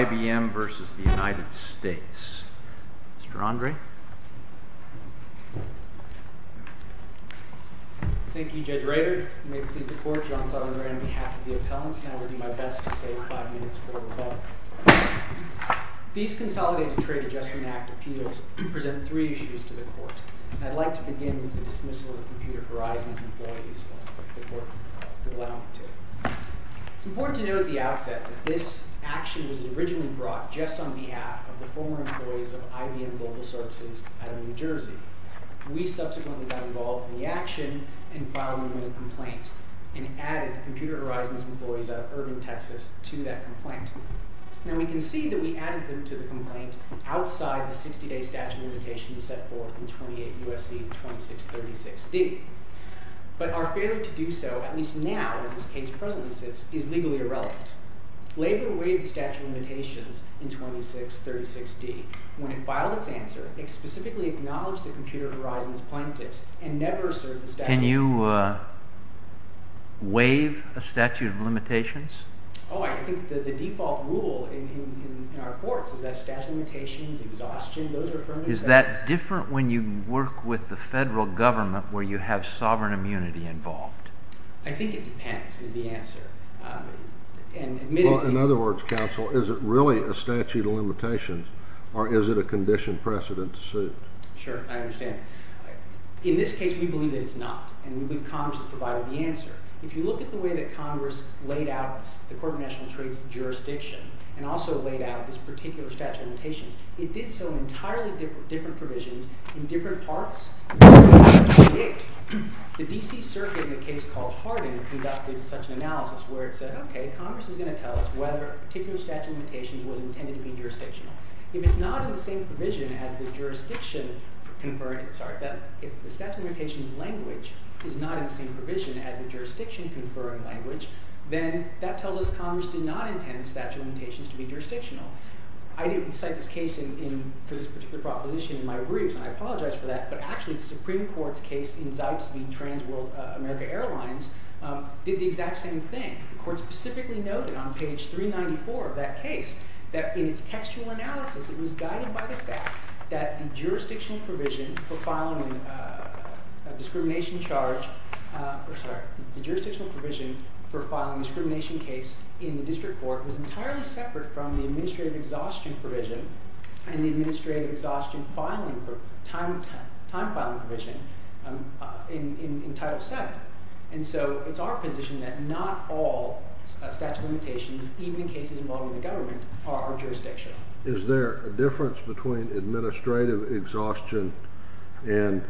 IBM v. United States Mr. Andre Thank you Judge Rader, and may it please the court, John Cleveland Rand on behalf of the appellants, and I will do my best to save five minutes for the rebuttal. These consolidated trade adjustment act appeals present three issues to the court, and I'd like to begin with the dismissal of Computer Horizons employees that the court will allow me to. It's important to note at the outset that this action was originally brought just on behalf of the former employees of IBM Global Services out of New Jersey. We subsequently got involved in the action, and filed a limited complaint, and added Computer Horizons employees out of Urban, Texas to that complaint. Now we can see that we added them to the complaint outside the 60-day statute of limitations set forth in 28 U.S.C. 2636d. But our failure to do so, at least now as this case presently sits, is legally irrelevant. Labor waived the statute of limitations in 2636d. When it filed its answer, it specifically acknowledged that Computer Horizons plaintiffs and never asserted the statute of limitations. Can you waive a statute of limitations? Oh, I think the default rule in our courts is that statute of limitations, exhaustion, those are permanent effects. Is that different when you work with the federal government where you have sovereign immunity involved? I think it depends, is the answer. In other words, counsel, is it really a statute of limitations, or is it a condition precedent suit? Sure, I understand. In this case, we believe that it's not, and we believe Congress has provided the answer. If you look at the way that Congress laid out the Court of National Trade's jurisdiction, and also laid out this particular statute of limitations, it did so in entirely different provisions in different parts. The D.C. Circuit, in a case called Harding, conducted such an analysis where it said, okay, Congress is going to tell us whether a particular statute of limitations was intended to be jurisdictional. If it's not in the same provision as the jurisdiction conferring – sorry, if the statute of limitations language is not in the same provision as the jurisdiction conferring language, then that tells us Congress did not intend the statute of limitations to be jurisdictional. I didn't cite this case for this particular proposition in my briefs, and I apologize for that, but actually the Supreme Court's case in Zipes v. Trans World America Airlines did the exact same thing. The Court specifically noted on page 394 of that case that in its textual analysis, it was guided by the fact that the jurisdictional provision for filing a discrimination charge – the administrative exhaustion provision and the administrative exhaustion time-filing provision in Title VII. And so it's our position that not all statute of limitations, even in cases involving the government, are jurisdictional. Is there a difference between administrative exhaustion and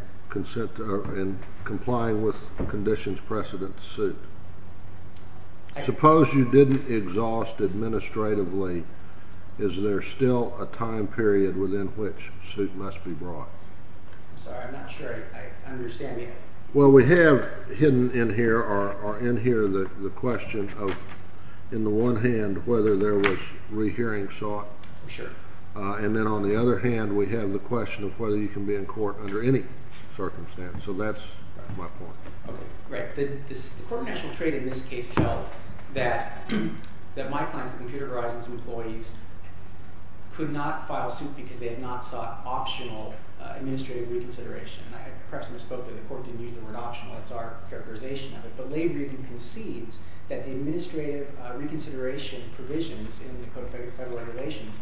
complying with conditions precedent suit? Suppose you didn't exhaust administratively, is there still a time period within which suit must be brought? I'm sorry, I'm not sure I understand you. Well, we have hidden in here or in here the question of, in the one hand, whether there was rehearing sought. Sure. And then on the other hand, we have the question of whether you can be in court under any circumstance. So that's my point. Okay. Right. The Court of National Trade in this case held that my clients, the Computer Horizons employees, could not file suit because they had not sought optional administrative reconsideration. And perhaps I misspoke there. The Court didn't use the word optional. That's our characterization of it. But Lavery even concedes that the administrative reconsideration provisions in the Code of Federal Regulations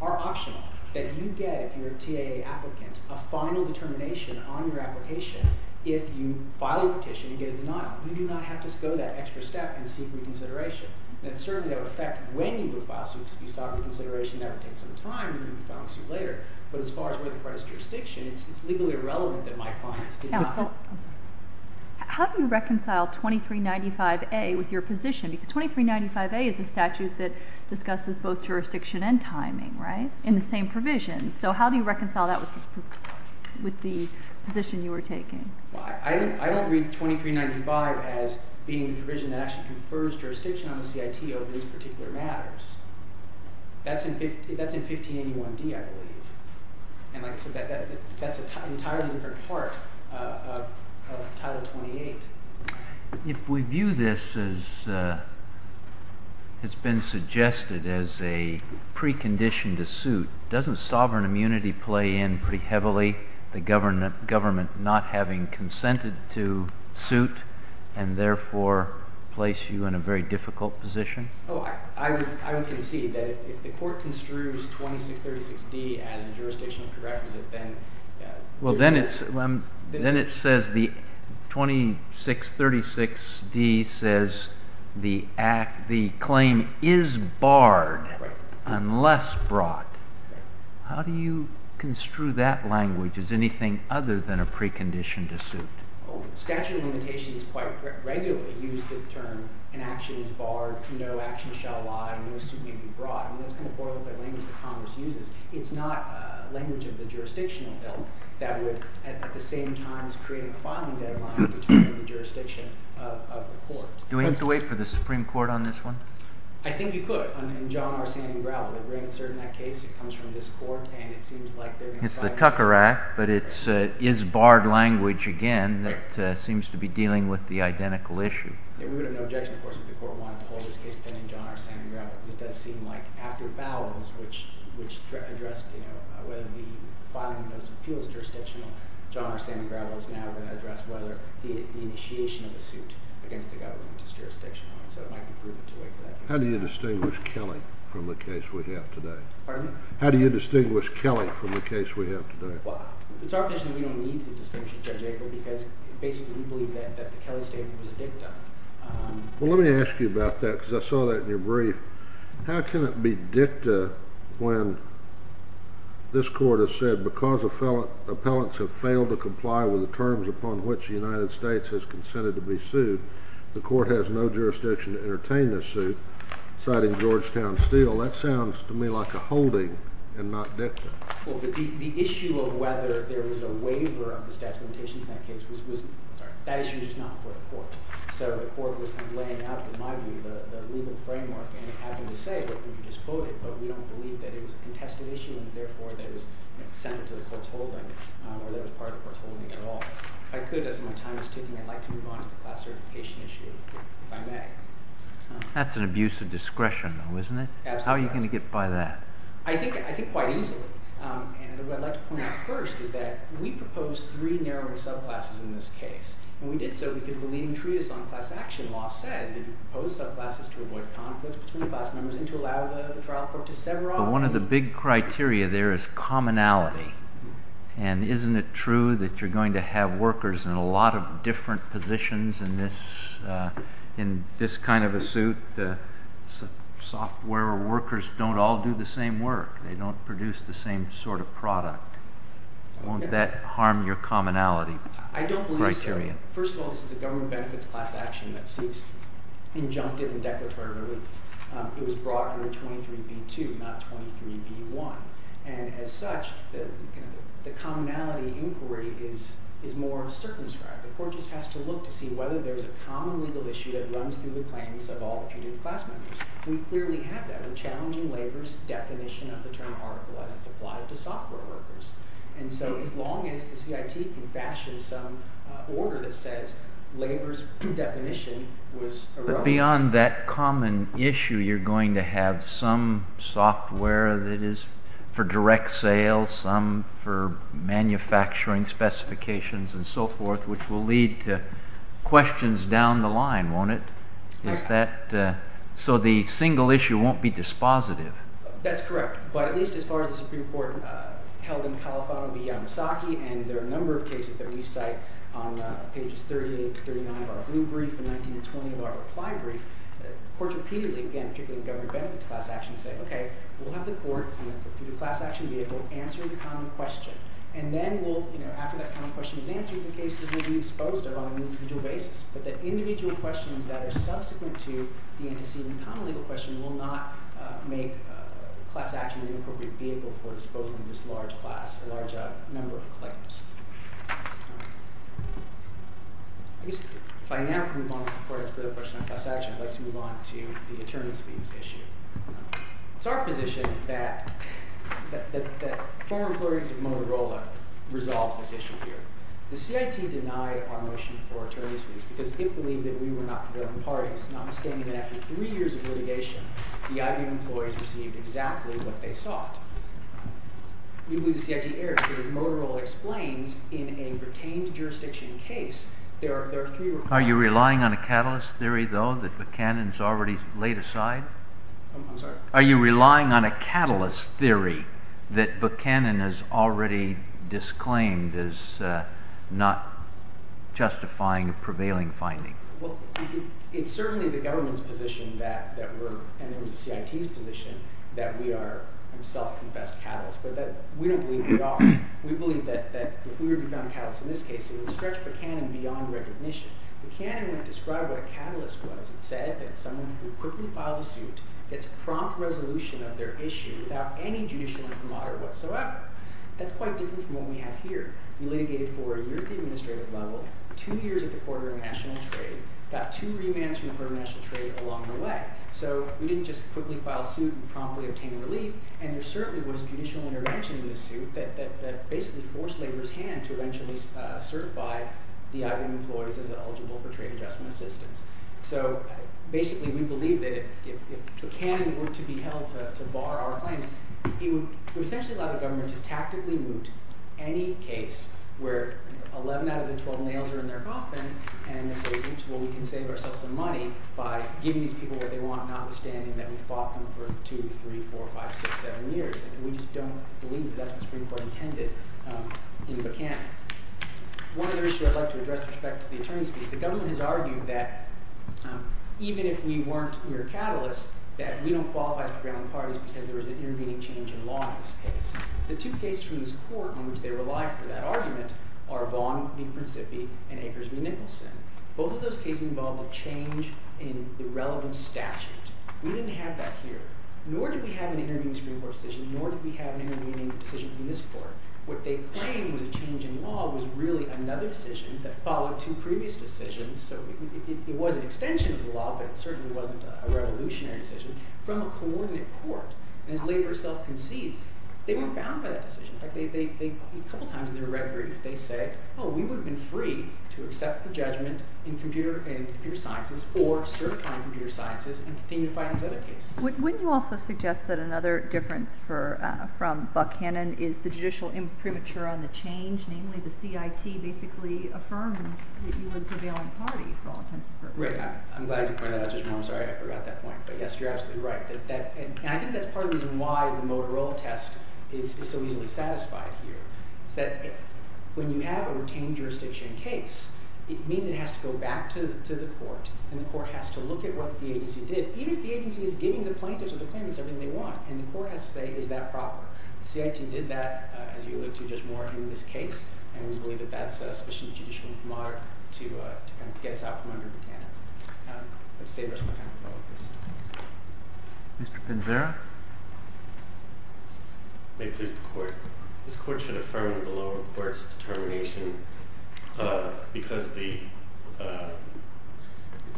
are optional, that you get, if you're a TAA applicant, a final determination on your application if you file your petition and get a denial. You do not have to go that extra step and seek reconsideration. And certainly that would affect when you would file suit because if you sought reconsideration, that would take some time and you would be filing suit later. But as far as where the part is jurisdiction, it's legally irrelevant that my clients did not. How do you reconcile 2395A with your position? Because 2395A is a statute that discusses both jurisdiction and timing, right? In the same provision. So how do you reconcile that with the position you were taking? I don't read 2395 as being a provision that actually confers jurisdiction on the CIT over these particular matters. That's in 1581D, I believe. And like I said, that's an entirely different part of Title 28. If we view this as it's been suggested as a precondition to suit, doesn't sovereign immunity play in pretty heavily the government not having consented to suit and therefore place you in a very difficult position? Oh, I would concede that if the court construes 2636D as a jurisdictional prerequisite, then... 2636D says the claim is barred unless brought. How do you construe that language? Is anything other than a precondition to suit? Statute of limitations quite regularly use the term, an action is barred, no action shall lie, no suit may be brought. And that's kind of the language that Congress uses. It's not a language of the jurisdictional bill that would at the same time create a filing deadline between the jurisdiction of the court. Do we have to wait for the Supreme Court on this one? I think you could, in John R. Sandengravel. They bring a cert in that case, it comes from this court, and it seems like they're going to... It's the Tucker Act, but it is barred language again that seems to be dealing with the identical issue. We would have no objection, of course, if the court wanted to hold this case, depending on John R. Sandengravel, because it does seem like after ballots, which address whether the filing of those appeals is jurisdictional, John R. Sandengravel is now going to address whether the initiation of a suit against the government is jurisdictional, so it might be prudent to wait for that case. How do you distinguish Kelly from the case we have today? Pardon? How do you distinguish Kelly from the case we have today? Well, it's our position we don't need to distinguish Judge April, because basically we believe that the Kelly statement was dicta. Well, let me ask you about that, because I saw that in your brief. How can it be dicta when this court has said, because appellants have failed to comply with the terms upon which the United States has consented to be sued, the court has no jurisdiction to entertain this suit, citing Georgetown Steel. That sounds to me like a holding and not dicta. Well, but the issue of whether there is a waiver of the statute of limitations in that case was not for the court. So the court was kind of laying out, in my view, the legal framework and having to say, look, we just voted, but we don't believe that it was a contested issue, and therefore that it was sent to the court's holding or that it was part of the court's holding at all. If I could, as my time is ticking, I'd like to move on to the class certification issue, if I may. That's an abuse of discretion, though, isn't it? Absolutely. How are you going to get by that? I think quite easily. And what I'd like to point out first is that we proposed three narrowing subclasses in this case. And we did so because the leading treatise on class action law said that you propose subclasses to avoid conflicts between class members and to allow the trial court to sever off. But one of the big criteria there is commonality. And isn't it true that you're going to have workers in a lot of different positions in this kind of a suit? Software workers don't all do the same work. They don't produce the same sort of product. Won't that harm your commonality criteria? I don't believe so. First of all, this is a government benefits class action that seeks injunctive and declaratory relief. It was brought under 23b-2, not 23b-1. And as such, the commonality inquiry is more circumscribed. The court just has to look to see whether there's a common legal issue that runs through the claims of all the putative class members. We clearly have that in challenging labor's definition of the term article as it's applied to software workers. And so as long as the CIT can fashion some order that says labor's definition was eroded. But beyond that common issue, you're going to have some software that is for direct sale, some for manufacturing specifications and so forth, which will lead to questions down the line, won't it? So the single issue won't be dispositive. That's correct. But at least as far as the Supreme Court held in California v. Yamasaki, and there are a number of cases that we cite on pages 38 to 39 of our blue brief and 19 to 20 of our reply brief, courts repeatedly, again, particularly in government benefits class action, say, okay, we'll have the court come in for putative class action to be able to answer the common question. And then we'll, you know, after that common question is answered, the cases will be disposed of on an individual basis. But the individual questions that are subsequent to the antecedent common legal question will not make class action an inappropriate vehicle for disposing of this large class, a large number of claims. I guess if I now move on before I ask a further question on class action, I'd like to move on to the attorney's fees issue. It's our position that former employees of Motorola resolved this issue here. The CIT denied our motion for attorney's fees because it believed that we were not developing parties, notwithstanding that after three years of litigation, the IBM employees received exactly what they sought. We believe the CIT erred because as Motorola explains, in a retained jurisdiction case, there are three requirements. Are you relying on a catalyst theory, though, that Buchanan has already laid aside? I'm sorry? Are you relying on a catalyst theory that Buchanan has already disclaimed is not justifying a prevailing finding? Well, it's certainly the government's position that we're – and it was the CIT's position that we are self-confessed catalysts, but that we don't believe we are. We believe that if we were to be found catalysts in this case, it would stretch Buchanan beyond recognition. Buchanan would describe what a catalyst was. It said that someone who quickly filed a suit gets prompt resolution of their issue without any judicial camaraderie whatsoever. That's quite different from what we have here. We litigated for a year at the administrative level, two years at the Court of International Trade, got two remands from the Court of International Trade along the way. So we didn't just quickly file a suit and promptly obtain relief, and there certainly was judicial intervention in the suit that basically forced labor's hand to eventually certify the IBM employees as eligible for trade adjustment assistance. So basically, we believe that if Buchanan were to be held to bar our claims, it would essentially allow the government to tactically moot any case where 11 out of the 12 nails are in their coffin and say, oops, well, we can save ourselves some money by giving these people what they want, notwithstanding that we fought them for two, three, four, five, six, seven years. And we just don't believe that that's what the Supreme Court intended in Buchanan. One other issue I'd like to address with respect to the attorney's piece. The government has argued that even if we weren't mere catalysts, that we don't qualify as the grounding parties because there was an intervening change in law in this case. The two cases from this court in which they relied for that argument are Vaughn v. Principi and Akers v. Nicholson. Both of those cases involved a change in the relevant statute. We didn't have that here, nor did we have an intervening Supreme Court decision, nor did we have an intervening decision from this court. What they claimed was a change in law was really another decision that followed two previous decisions. So it was an extension of the law, but it certainly wasn't a revolutionary decision from a coordinate court. And as laborer self concedes, they weren't bound by that decision. In fact, a couple of times in their red brief, they said, oh, we would have been free to accept the judgment in computer and computer sciences or certify in computer sciences and continue to fight this other case. Wouldn't you also suggest that another difference from Buck-Hannon is the judicial imprimatur on the change? Namely, the CIT basically affirmed that you were the prevailing party for all intents and purposes. Right. I'm glad you pointed that out, Judge Moore. I'm sorry I forgot that point. But yes, you're absolutely right. And I think that's part of the reason why the Motorola test is so easily satisfied here. It's that when you have a retained jurisdiction case, it means it has to go back to the court and the court has to look at what the agency did. Even if the agency is giving the plaintiffs or the claimants everything they want, and the court has to say, is that proper? The CIT did that, as you alluded to, Judge Moore, in this case. And we believe that that's a sufficient judicial imprimatur to kind of get us out from under Buck-Hannon. But to save us more time, we'll go with this. Mr. Pinzero? May it please the court. This court should affirm the lower court's determination because the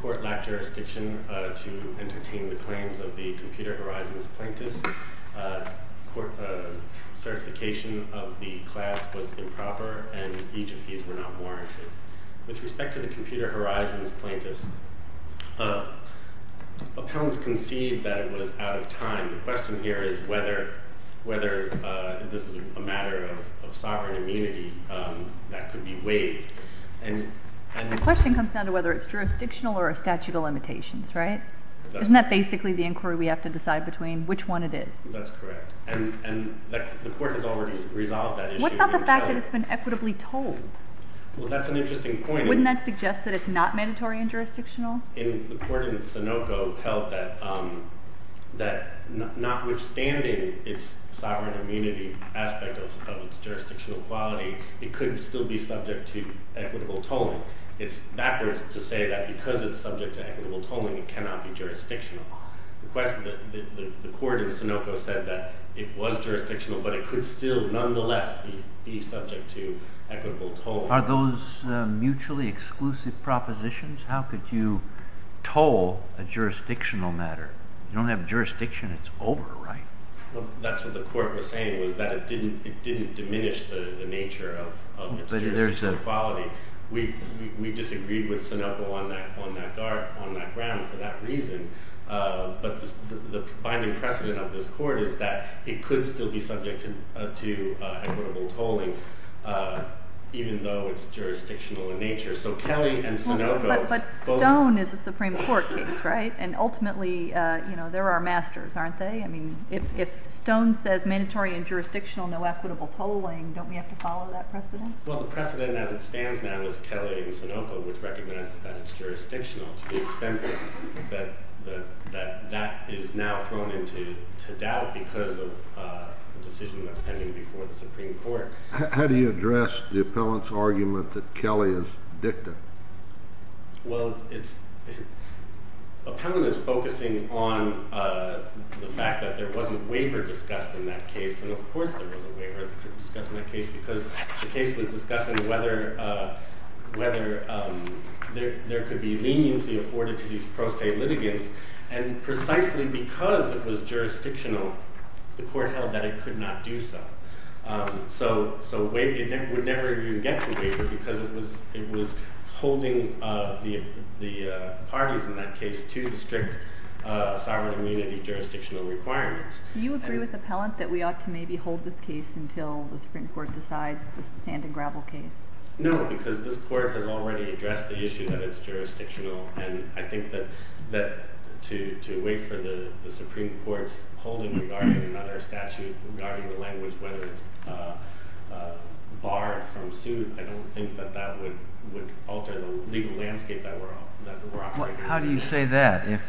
court lacked jurisdiction to entertain the claims of the Computer Horizons plaintiffs. Certification of the class was improper, and each of these were not warranted. With respect to the Computer Horizons plaintiffs, appellants conceived that it was out of time. The question here is whether this is a matter of sovereign immunity that could be waived. The question comes down to whether it's jurisdictional or a statute of limitations, right? Isn't that basically the inquiry we have to decide between which one it is? That's correct. And the court has already resolved that issue. What about the fact that it's been equitably told? Well, that's an interesting point. Wouldn't that suggest that it's not mandatory and jurisdictional? The court in Sunoco held that notwithstanding its sovereign immunity aspect of its jurisdictional quality, it could still be subject to equitable tolling. It's backwards to say that because it's subject to equitable tolling, it cannot be jurisdictional. The court in Sunoco said that it was jurisdictional, but it could still nonetheless be subject to equitable tolling. Are those mutually exclusive propositions? How could you toll a jurisdictional matter? You don't have jurisdiction. It's over, right? Well, that's what the court was saying was that it didn't diminish the nature of its jurisdictional quality. We disagreed with Sunoco on that ground for that reason, but the binding precedent of this court is that it could still be subject to equitable tolling even though it's jurisdictional in nature. But Stone is a Supreme Court case, right? And ultimately, they're our masters, aren't they? I mean, if Stone says mandatory and jurisdictional, no equitable tolling, don't we have to follow that precedent? Well, the precedent as it stands now is Kelly and Sunoco, which recognizes that it's jurisdictional to the extent that that is now thrown into doubt because of a decision that's pending before the Supreme Court. How do you address the appellant's argument that Kelly is dicta? Well, appellant is focusing on the fact that there wasn't waiver discussed in that case. And of course there was a waiver discussed in that case because the case was discussing whether there could be leniency afforded to these pro se litigants. And precisely because it was jurisdictional, the court held that it could not do so. So it would never even get to waiver because it was holding the parties in that case to the strict sovereign immunity jurisdictional requirements. Do you agree with appellant that we ought to maybe hold this case until the Supreme Court decides to stand a gravel case? No, because this court has already addressed the issue that it's jurisdictional. And I think that to wait for the Supreme Court's holding regarding another statute regarding the language, whether it's barred from suit, I don't think that that would alter the legal landscape that we're operating in. How do you say that?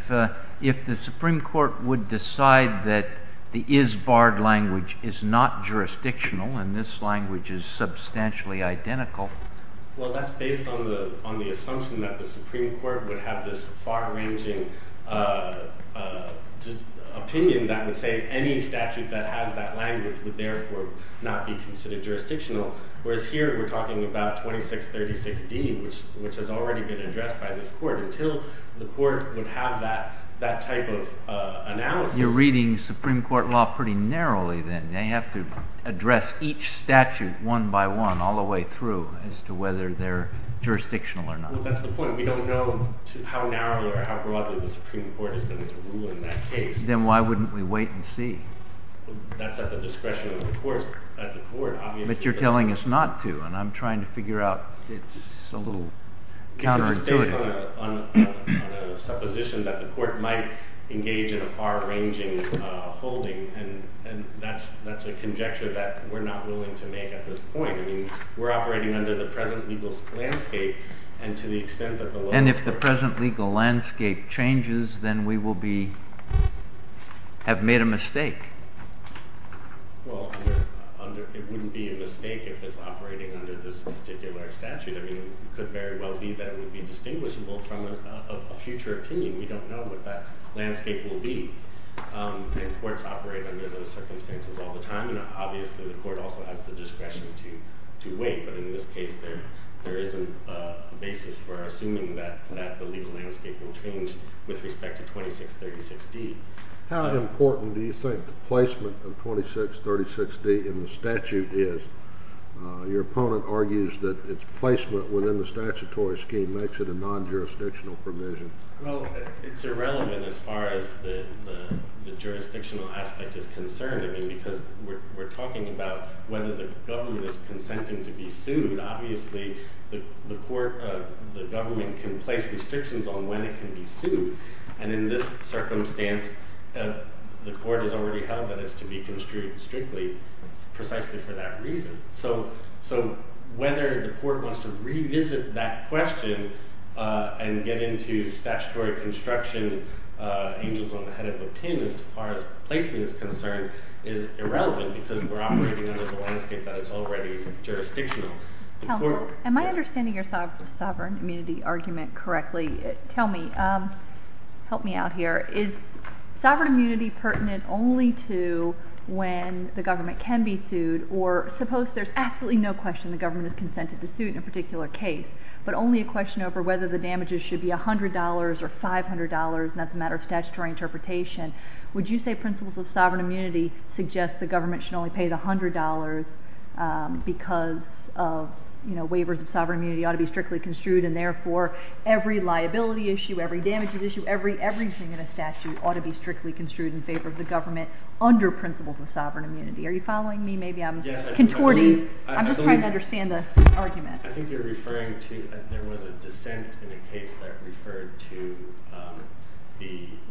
If the Supreme Court would decide that the is barred language is not jurisdictional and this language is substantially identical? Well, that's based on the assumption that the Supreme Court would have this far ranging opinion that would say any statute that has that language would therefore not be considered jurisdictional. Whereas here we're talking about 2636D, which has already been addressed by this court until the court would have that type of analysis. You're reading Supreme Court law pretty narrowly then. They have to address each statute one by one all the way through as to whether they're jurisdictional or not. Well, that's the point. We don't know how narrowly or how broadly the Supreme Court is going to rule in that case. Then why wouldn't we wait and see? That's at the discretion of the courts. But you're telling us not to, and I'm trying to figure out. It's a little counterintuitive. It's based on a supposition that the court might engage in a far ranging holding, and that's a conjecture that we're not willing to make at this point. We're operating under the present legal landscape, and to the extent that the law... And if the present legal landscape changes, then we have made a mistake. Well, it wouldn't be a mistake if it's operating under this particular statute. I mean, it could very well be that it would be distinguishable from a future opinion. We don't know what that landscape will be. And courts operate under those circumstances all the time, and obviously the court also has the discretion to wait. But in this case, there isn't a basis for assuming that the legal landscape will change with respect to 2636D. How important do you think the placement of 2636D in the statute is? Your opponent argues that its placement within the statutory scheme makes it a non-jurisdictional provision. Well, it's irrelevant as far as the jurisdictional aspect is concerned. I mean, because we're talking about whether the government is consenting to be sued. Obviously, the government can place restrictions on when it can be sued. And in this circumstance, the court has already held that it's to be construed strictly precisely for that reason. So whether the court wants to revisit that question and get into statutory construction angels on the head of a pin, as far as placement is concerned, is irrelevant because we're operating under the landscape that is already jurisdictional. Am I understanding your sovereign immunity argument correctly? Tell me. Help me out here. Is sovereign immunity pertinent only to when the government can be sued, or suppose there's absolutely no question the government is consented to sue in a particular case, but only a question over whether the damages should be $100 or $500, and that's a matter of statutory interpretation. Would you say principles of sovereign immunity suggest the government should only pay the $100 because waivers of sovereign immunity ought to be strictly construed, and therefore every liability issue, every damages issue, everything in a statute ought to be strictly construed in favor of the government under principles of sovereign immunity? Are you following me? Maybe I'm contorting. I'm just trying to understand the argument. I think you're referring to there was a dissent in a case that referred to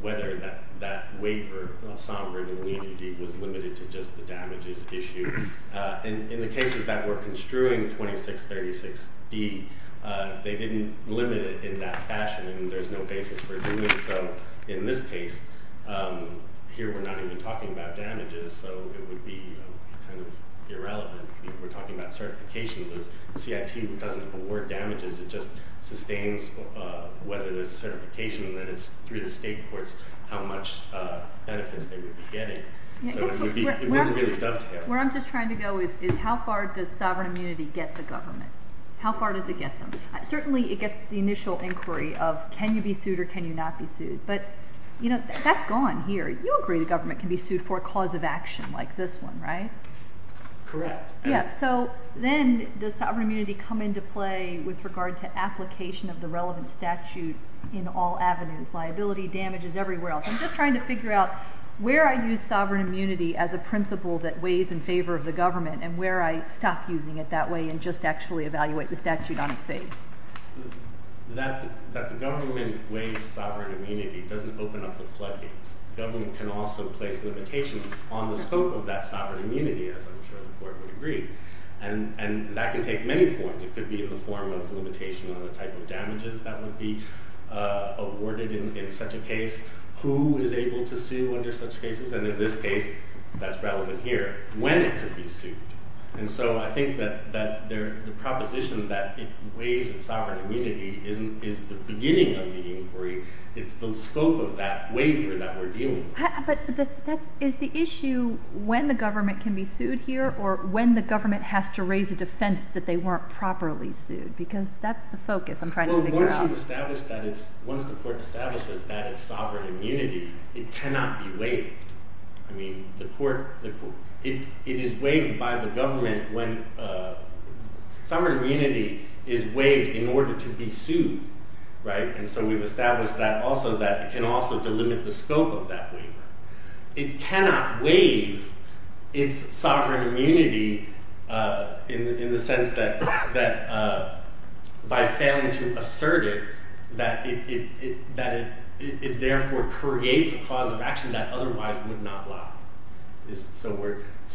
whether that waiver of sovereign immunity was limited to just the damages issue. In the cases that were construing 2636D, they didn't limit it in that fashion, and there's no basis for doing so in this case. Here we're not even talking about damages, so it would be kind of irrelevant. We're talking about certification. The CIT doesn't award damages. It just sustains whether there's certification and then it's through the state courts how much benefits they would be getting. Where I'm just trying to go is how far does sovereign immunity get the government? How far does it get them? Certainly it gets the initial inquiry of can you be sued or can you not be sued, but that's gone here. You agree the government can be sued for a cause of action like this one, right? Correct. Then does sovereign immunity come into play with regard to application of the relevant statute in all avenues, liability, damages, everywhere else? I'm just trying to figure out where I use sovereign immunity as a principle that weighs in favor of the government and where I stop using it that way and just actually evaluate the statute on its face. That the government weighs sovereign immunity doesn't open up the floodgates. Government can also place limitations on the scope of that sovereign immunity, as I'm sure the court would agree, and that can take many forms. It could be in the form of limitation on the type of damages that would be awarded in such a case. Who is able to sue under such cases? And in this case, that's relevant here, when it could be sued. And so I think that the proposition that it weighs in sovereign immunity isn't the beginning of the inquiry. It's the scope of that waiver that we're dealing with. But is the issue when the government can be sued here or when the government has to raise a defense that they weren't properly sued? Once the court establishes that it's sovereign immunity, it cannot be waived. It is waived by the government when sovereign immunity is waived in order to be sued. And so we've established that it can also delimit the scope of that waiver. It cannot waive its sovereign immunity in the sense that by failing to assert it, that it therefore creates a cause of action that otherwise would not allow. So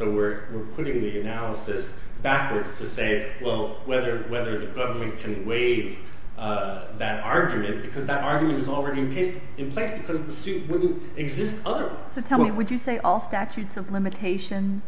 we're putting the analysis backwards to say, well, whether the government can waive that argument, because that argument is already in place because the suit wouldn't exist otherwise. So tell me, would you say all statutes of limitations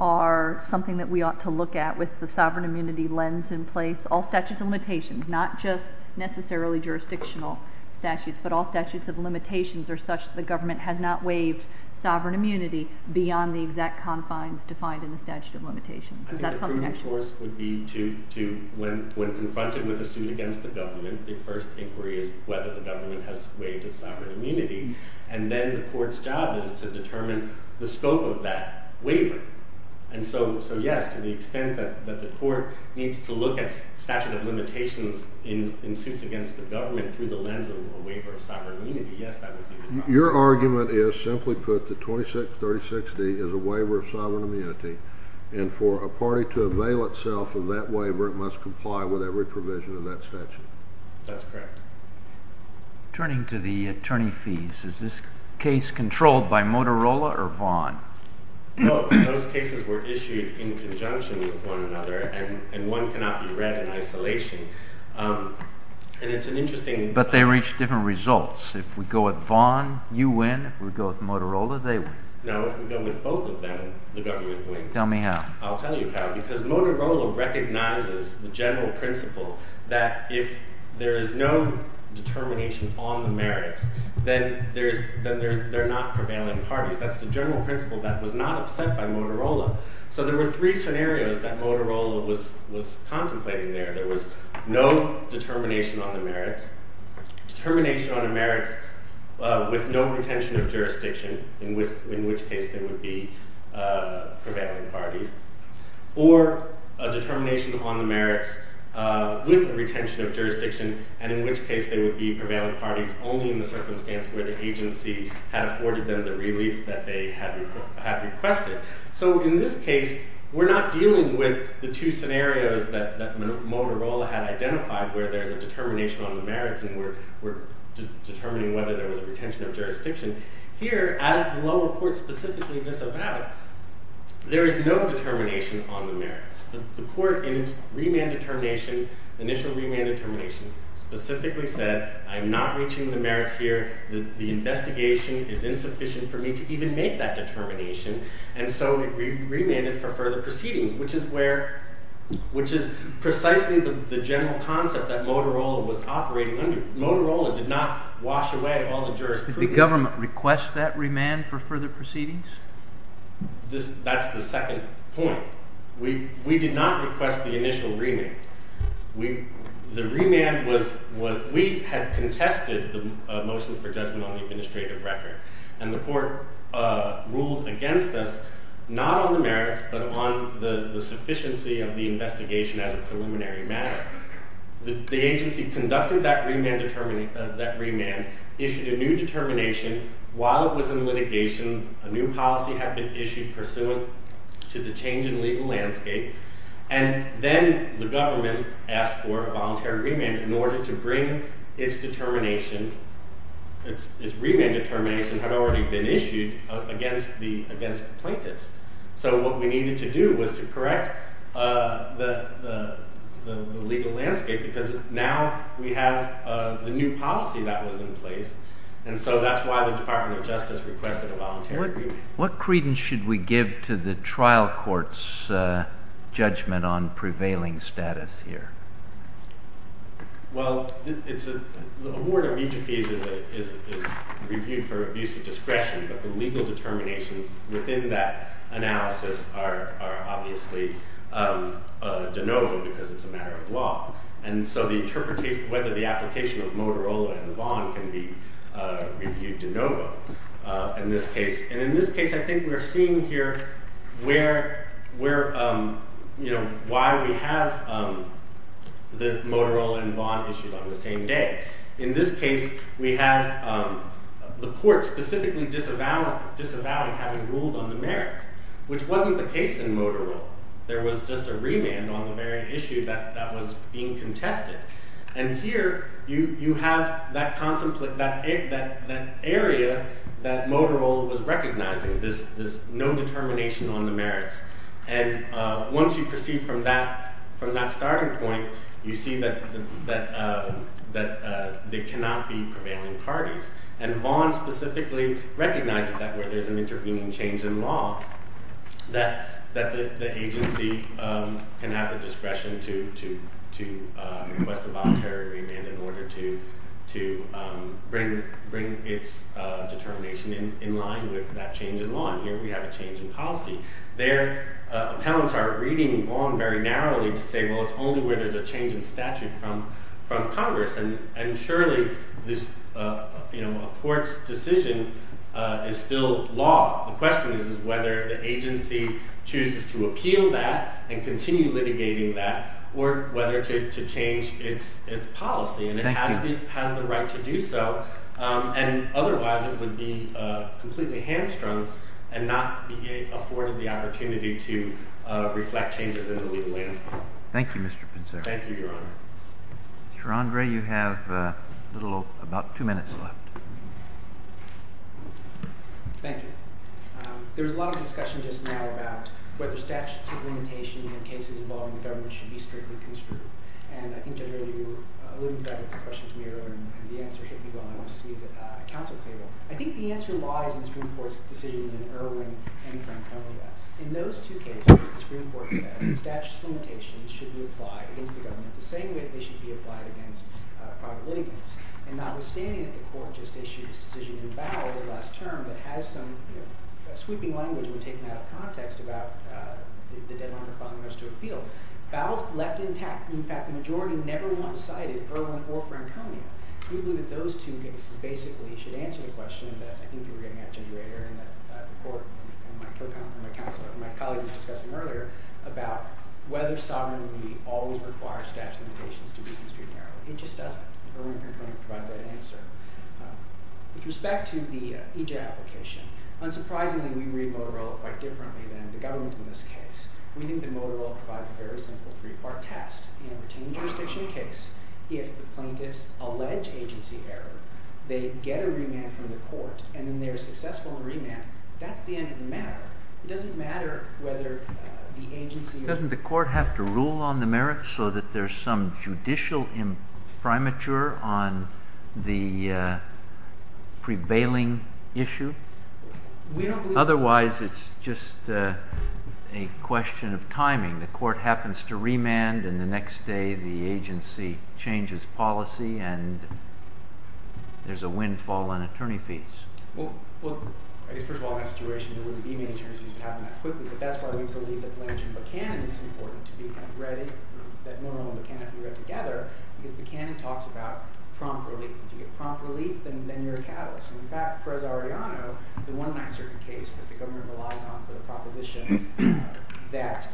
are something that we ought to look at with the sovereign immunity lens in place? All statutes of limitations, not just necessarily jurisdictional statutes, but all statutes of limitations are such that the government has not waived sovereign immunity beyond the exact confines defined in the statute of limitations. I think the prudent course would be to, when confronted with a suit against the government, the first inquiry is whether the government has waived its sovereign immunity. And then the court's job is to determine the scope of that waiver. And so, yes, to the extent that the court needs to look at statute of limitations in suits against the government through the lens of a waiver of sovereign immunity, yes, that would be the job. Your argument is, simply put, that 2636D is a waiver of sovereign immunity. And for a party to avail itself of that waiver, it must comply with every provision of that statute. That's correct. Turning to the attorney fees, is this case controlled by Motorola or Vaughan? Both. Those cases were issued in conjunction with one another, and one cannot be read in isolation. But they reached different results. If we go with Vaughan, you win. If we go with Motorola, they win. No, if we go with both of them, the government wins. Tell me how. I'll tell you how, because Motorola recognizes the general principle that if there is no determination on the merits, then they're not prevailing parties. That's the general principle that was not upset by Motorola. So there were three scenarios that Motorola was contemplating there. There was no determination on the merits, determination on the merits with no retention of jurisdiction, in which case they would be prevailing parties, or a determination on the merits with retention of jurisdiction, and in which case they would be prevailing parties only in the circumstance where the agency had afforded them the relief that they had requested. So in this case, we're not dealing with the two scenarios that Motorola had identified where there's a determination on the merits, and we're determining whether there was a retention of jurisdiction. Here, as the lower court specifically disavowed, there is no determination on the merits. The court in its remand determination, initial remand determination, specifically said, I'm not reaching the merits here. The investigation is insufficient for me to even make that determination. And so it remanded for further proceedings, which is precisely the general concept that Motorola was operating under. Motorola did not wash away all the jurisprudence. Did the government request that remand for further proceedings? That's the second point. We did not request the initial remand. The remand was what we had contested the motion for judgment on the administrative record. And the court ruled against us, not on the merits, but on the sufficiency of the investigation as a preliminary matter. The agency conducted that remand, issued a new determination while it was in litigation. A new policy had been issued pursuant to the change in legal landscape. And then the government asked for a voluntary remand in order to bring its determination. Its remand determination had already been issued against the plaintiffs. So what we needed to do was to correct the legal landscape because now we have the new policy that was in place. And so that's why the Department of Justice requested a voluntary remand. What credence should we give to the trial court's judgment on prevailing status here? Well, the award of each of these is reviewed for abuse of discretion. But the legal determinations within that analysis are obviously de novo because it's a matter of law. And so whether the application of Motorola and Vaughn can be reviewed de novo in this case. And in this case, I think we're seeing here why we have the Motorola and Vaughn issues on the same day. In this case, we have the court specifically disavowed having ruled on the merits, which wasn't the case in Motorola. There was just a remand on the very issue that was being contested. And here, you have that area that Motorola was recognizing, this no determination on the merits. And once you proceed from that starting point, you see that they cannot be prevailing parties. And Vaughn specifically recognizes that where there's an intervening change in law, that the agency can have the discretion to request a voluntary remand in order to bring its determination in line with that change in law. And here we have a change in policy. There, appellants are reading Vaughn very narrowly to say, well, it's only where there's a change in statute from Congress. And surely, a court's decision is still law. The question is whether the agency chooses to appeal that and continue litigating that, or whether to change its policy. And it has the right to do so. And otherwise, it would be completely hamstrung and not be afforded the opportunity to reflect changes in the legal landscape. Thank you, Mr. Pinzero. Thank you, Your Honor. Mr. Andre, you have about two minutes left. Thank you. There was a lot of discussion just now about whether statutes of limitations and cases involving the government should be strictly construed. And I think, Judge O'Rourke, you alluded to that in your question to me earlier, and the answer hit me well. And I want to see a council favor. I think the answer lies in Supreme Court's decisions in Irwin and Franconia. In those two cases, the Supreme Court said, statutes of limitations should be applied against the government the same way they should be applied against private litigants. And notwithstanding that the court just issued its decision in Bowell's last term that has some sweeping language that we've taken out of context about the deadline for filing those two appeals, Bowell's left intact. In fact, the majority never once cited Irwin or Franconia. We believe that those two cases basically should answer the question that I think you were getting at, Judge O'Rourke, and that the court and my colleague was discussing earlier about whether sovereignty always requires statutes of limitations to be construed narrowly. It just doesn't. Irwin and Franconia provide that answer. With respect to the EJ application, unsurprisingly, we read Motorola quite differently than the government in this case. We think that Motorola provides a very simple three-part test. In a retained jurisdiction case, if the plaintiffs allege agency error, they get a remand from the court. And when they're successful in remand, that's the end of the matter. It doesn't matter whether the agency or the court have to rule on the merits so that there's some judicial imprimatur on the prevailing issue. Otherwise, it's just a question of timing. The court happens to remand, and the next day the agency changes policy, and there's a windfall on attorney fees. Well, I guess, first of all, in that situation, there wouldn't be many attorneys fees that happen that quickly. But that's why we believe that the language in Buchanan is important to be kind of ready, that Motorola and Buchanan can be read together, because Buchanan talks about prompt relief. If you get prompt relief, then you're a catalyst. In fact, for as I already know, the one uncertain case that the government relies on for the proposition that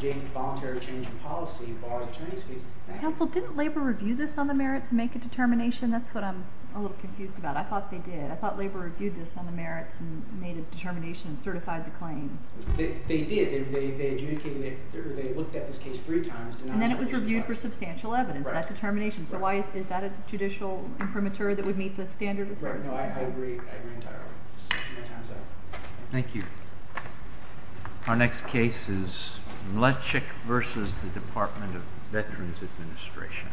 a voluntary change in policy bars attorney fees. Counsel, didn't Labor review this on the merits and make a determination? That's what I'm a little confused about. I thought they did. I thought Labor reviewed this on the merits and made a determination and certified the claim. They did. They adjudicated it. They looked at this case three times. And then it was reviewed for substantial evidence. That determination. So why is that a judicial imprimatur that would meet the standard? Right. I agree entirely. Thank you. Our next case is Mlecic versus the Department of Veterans Administration.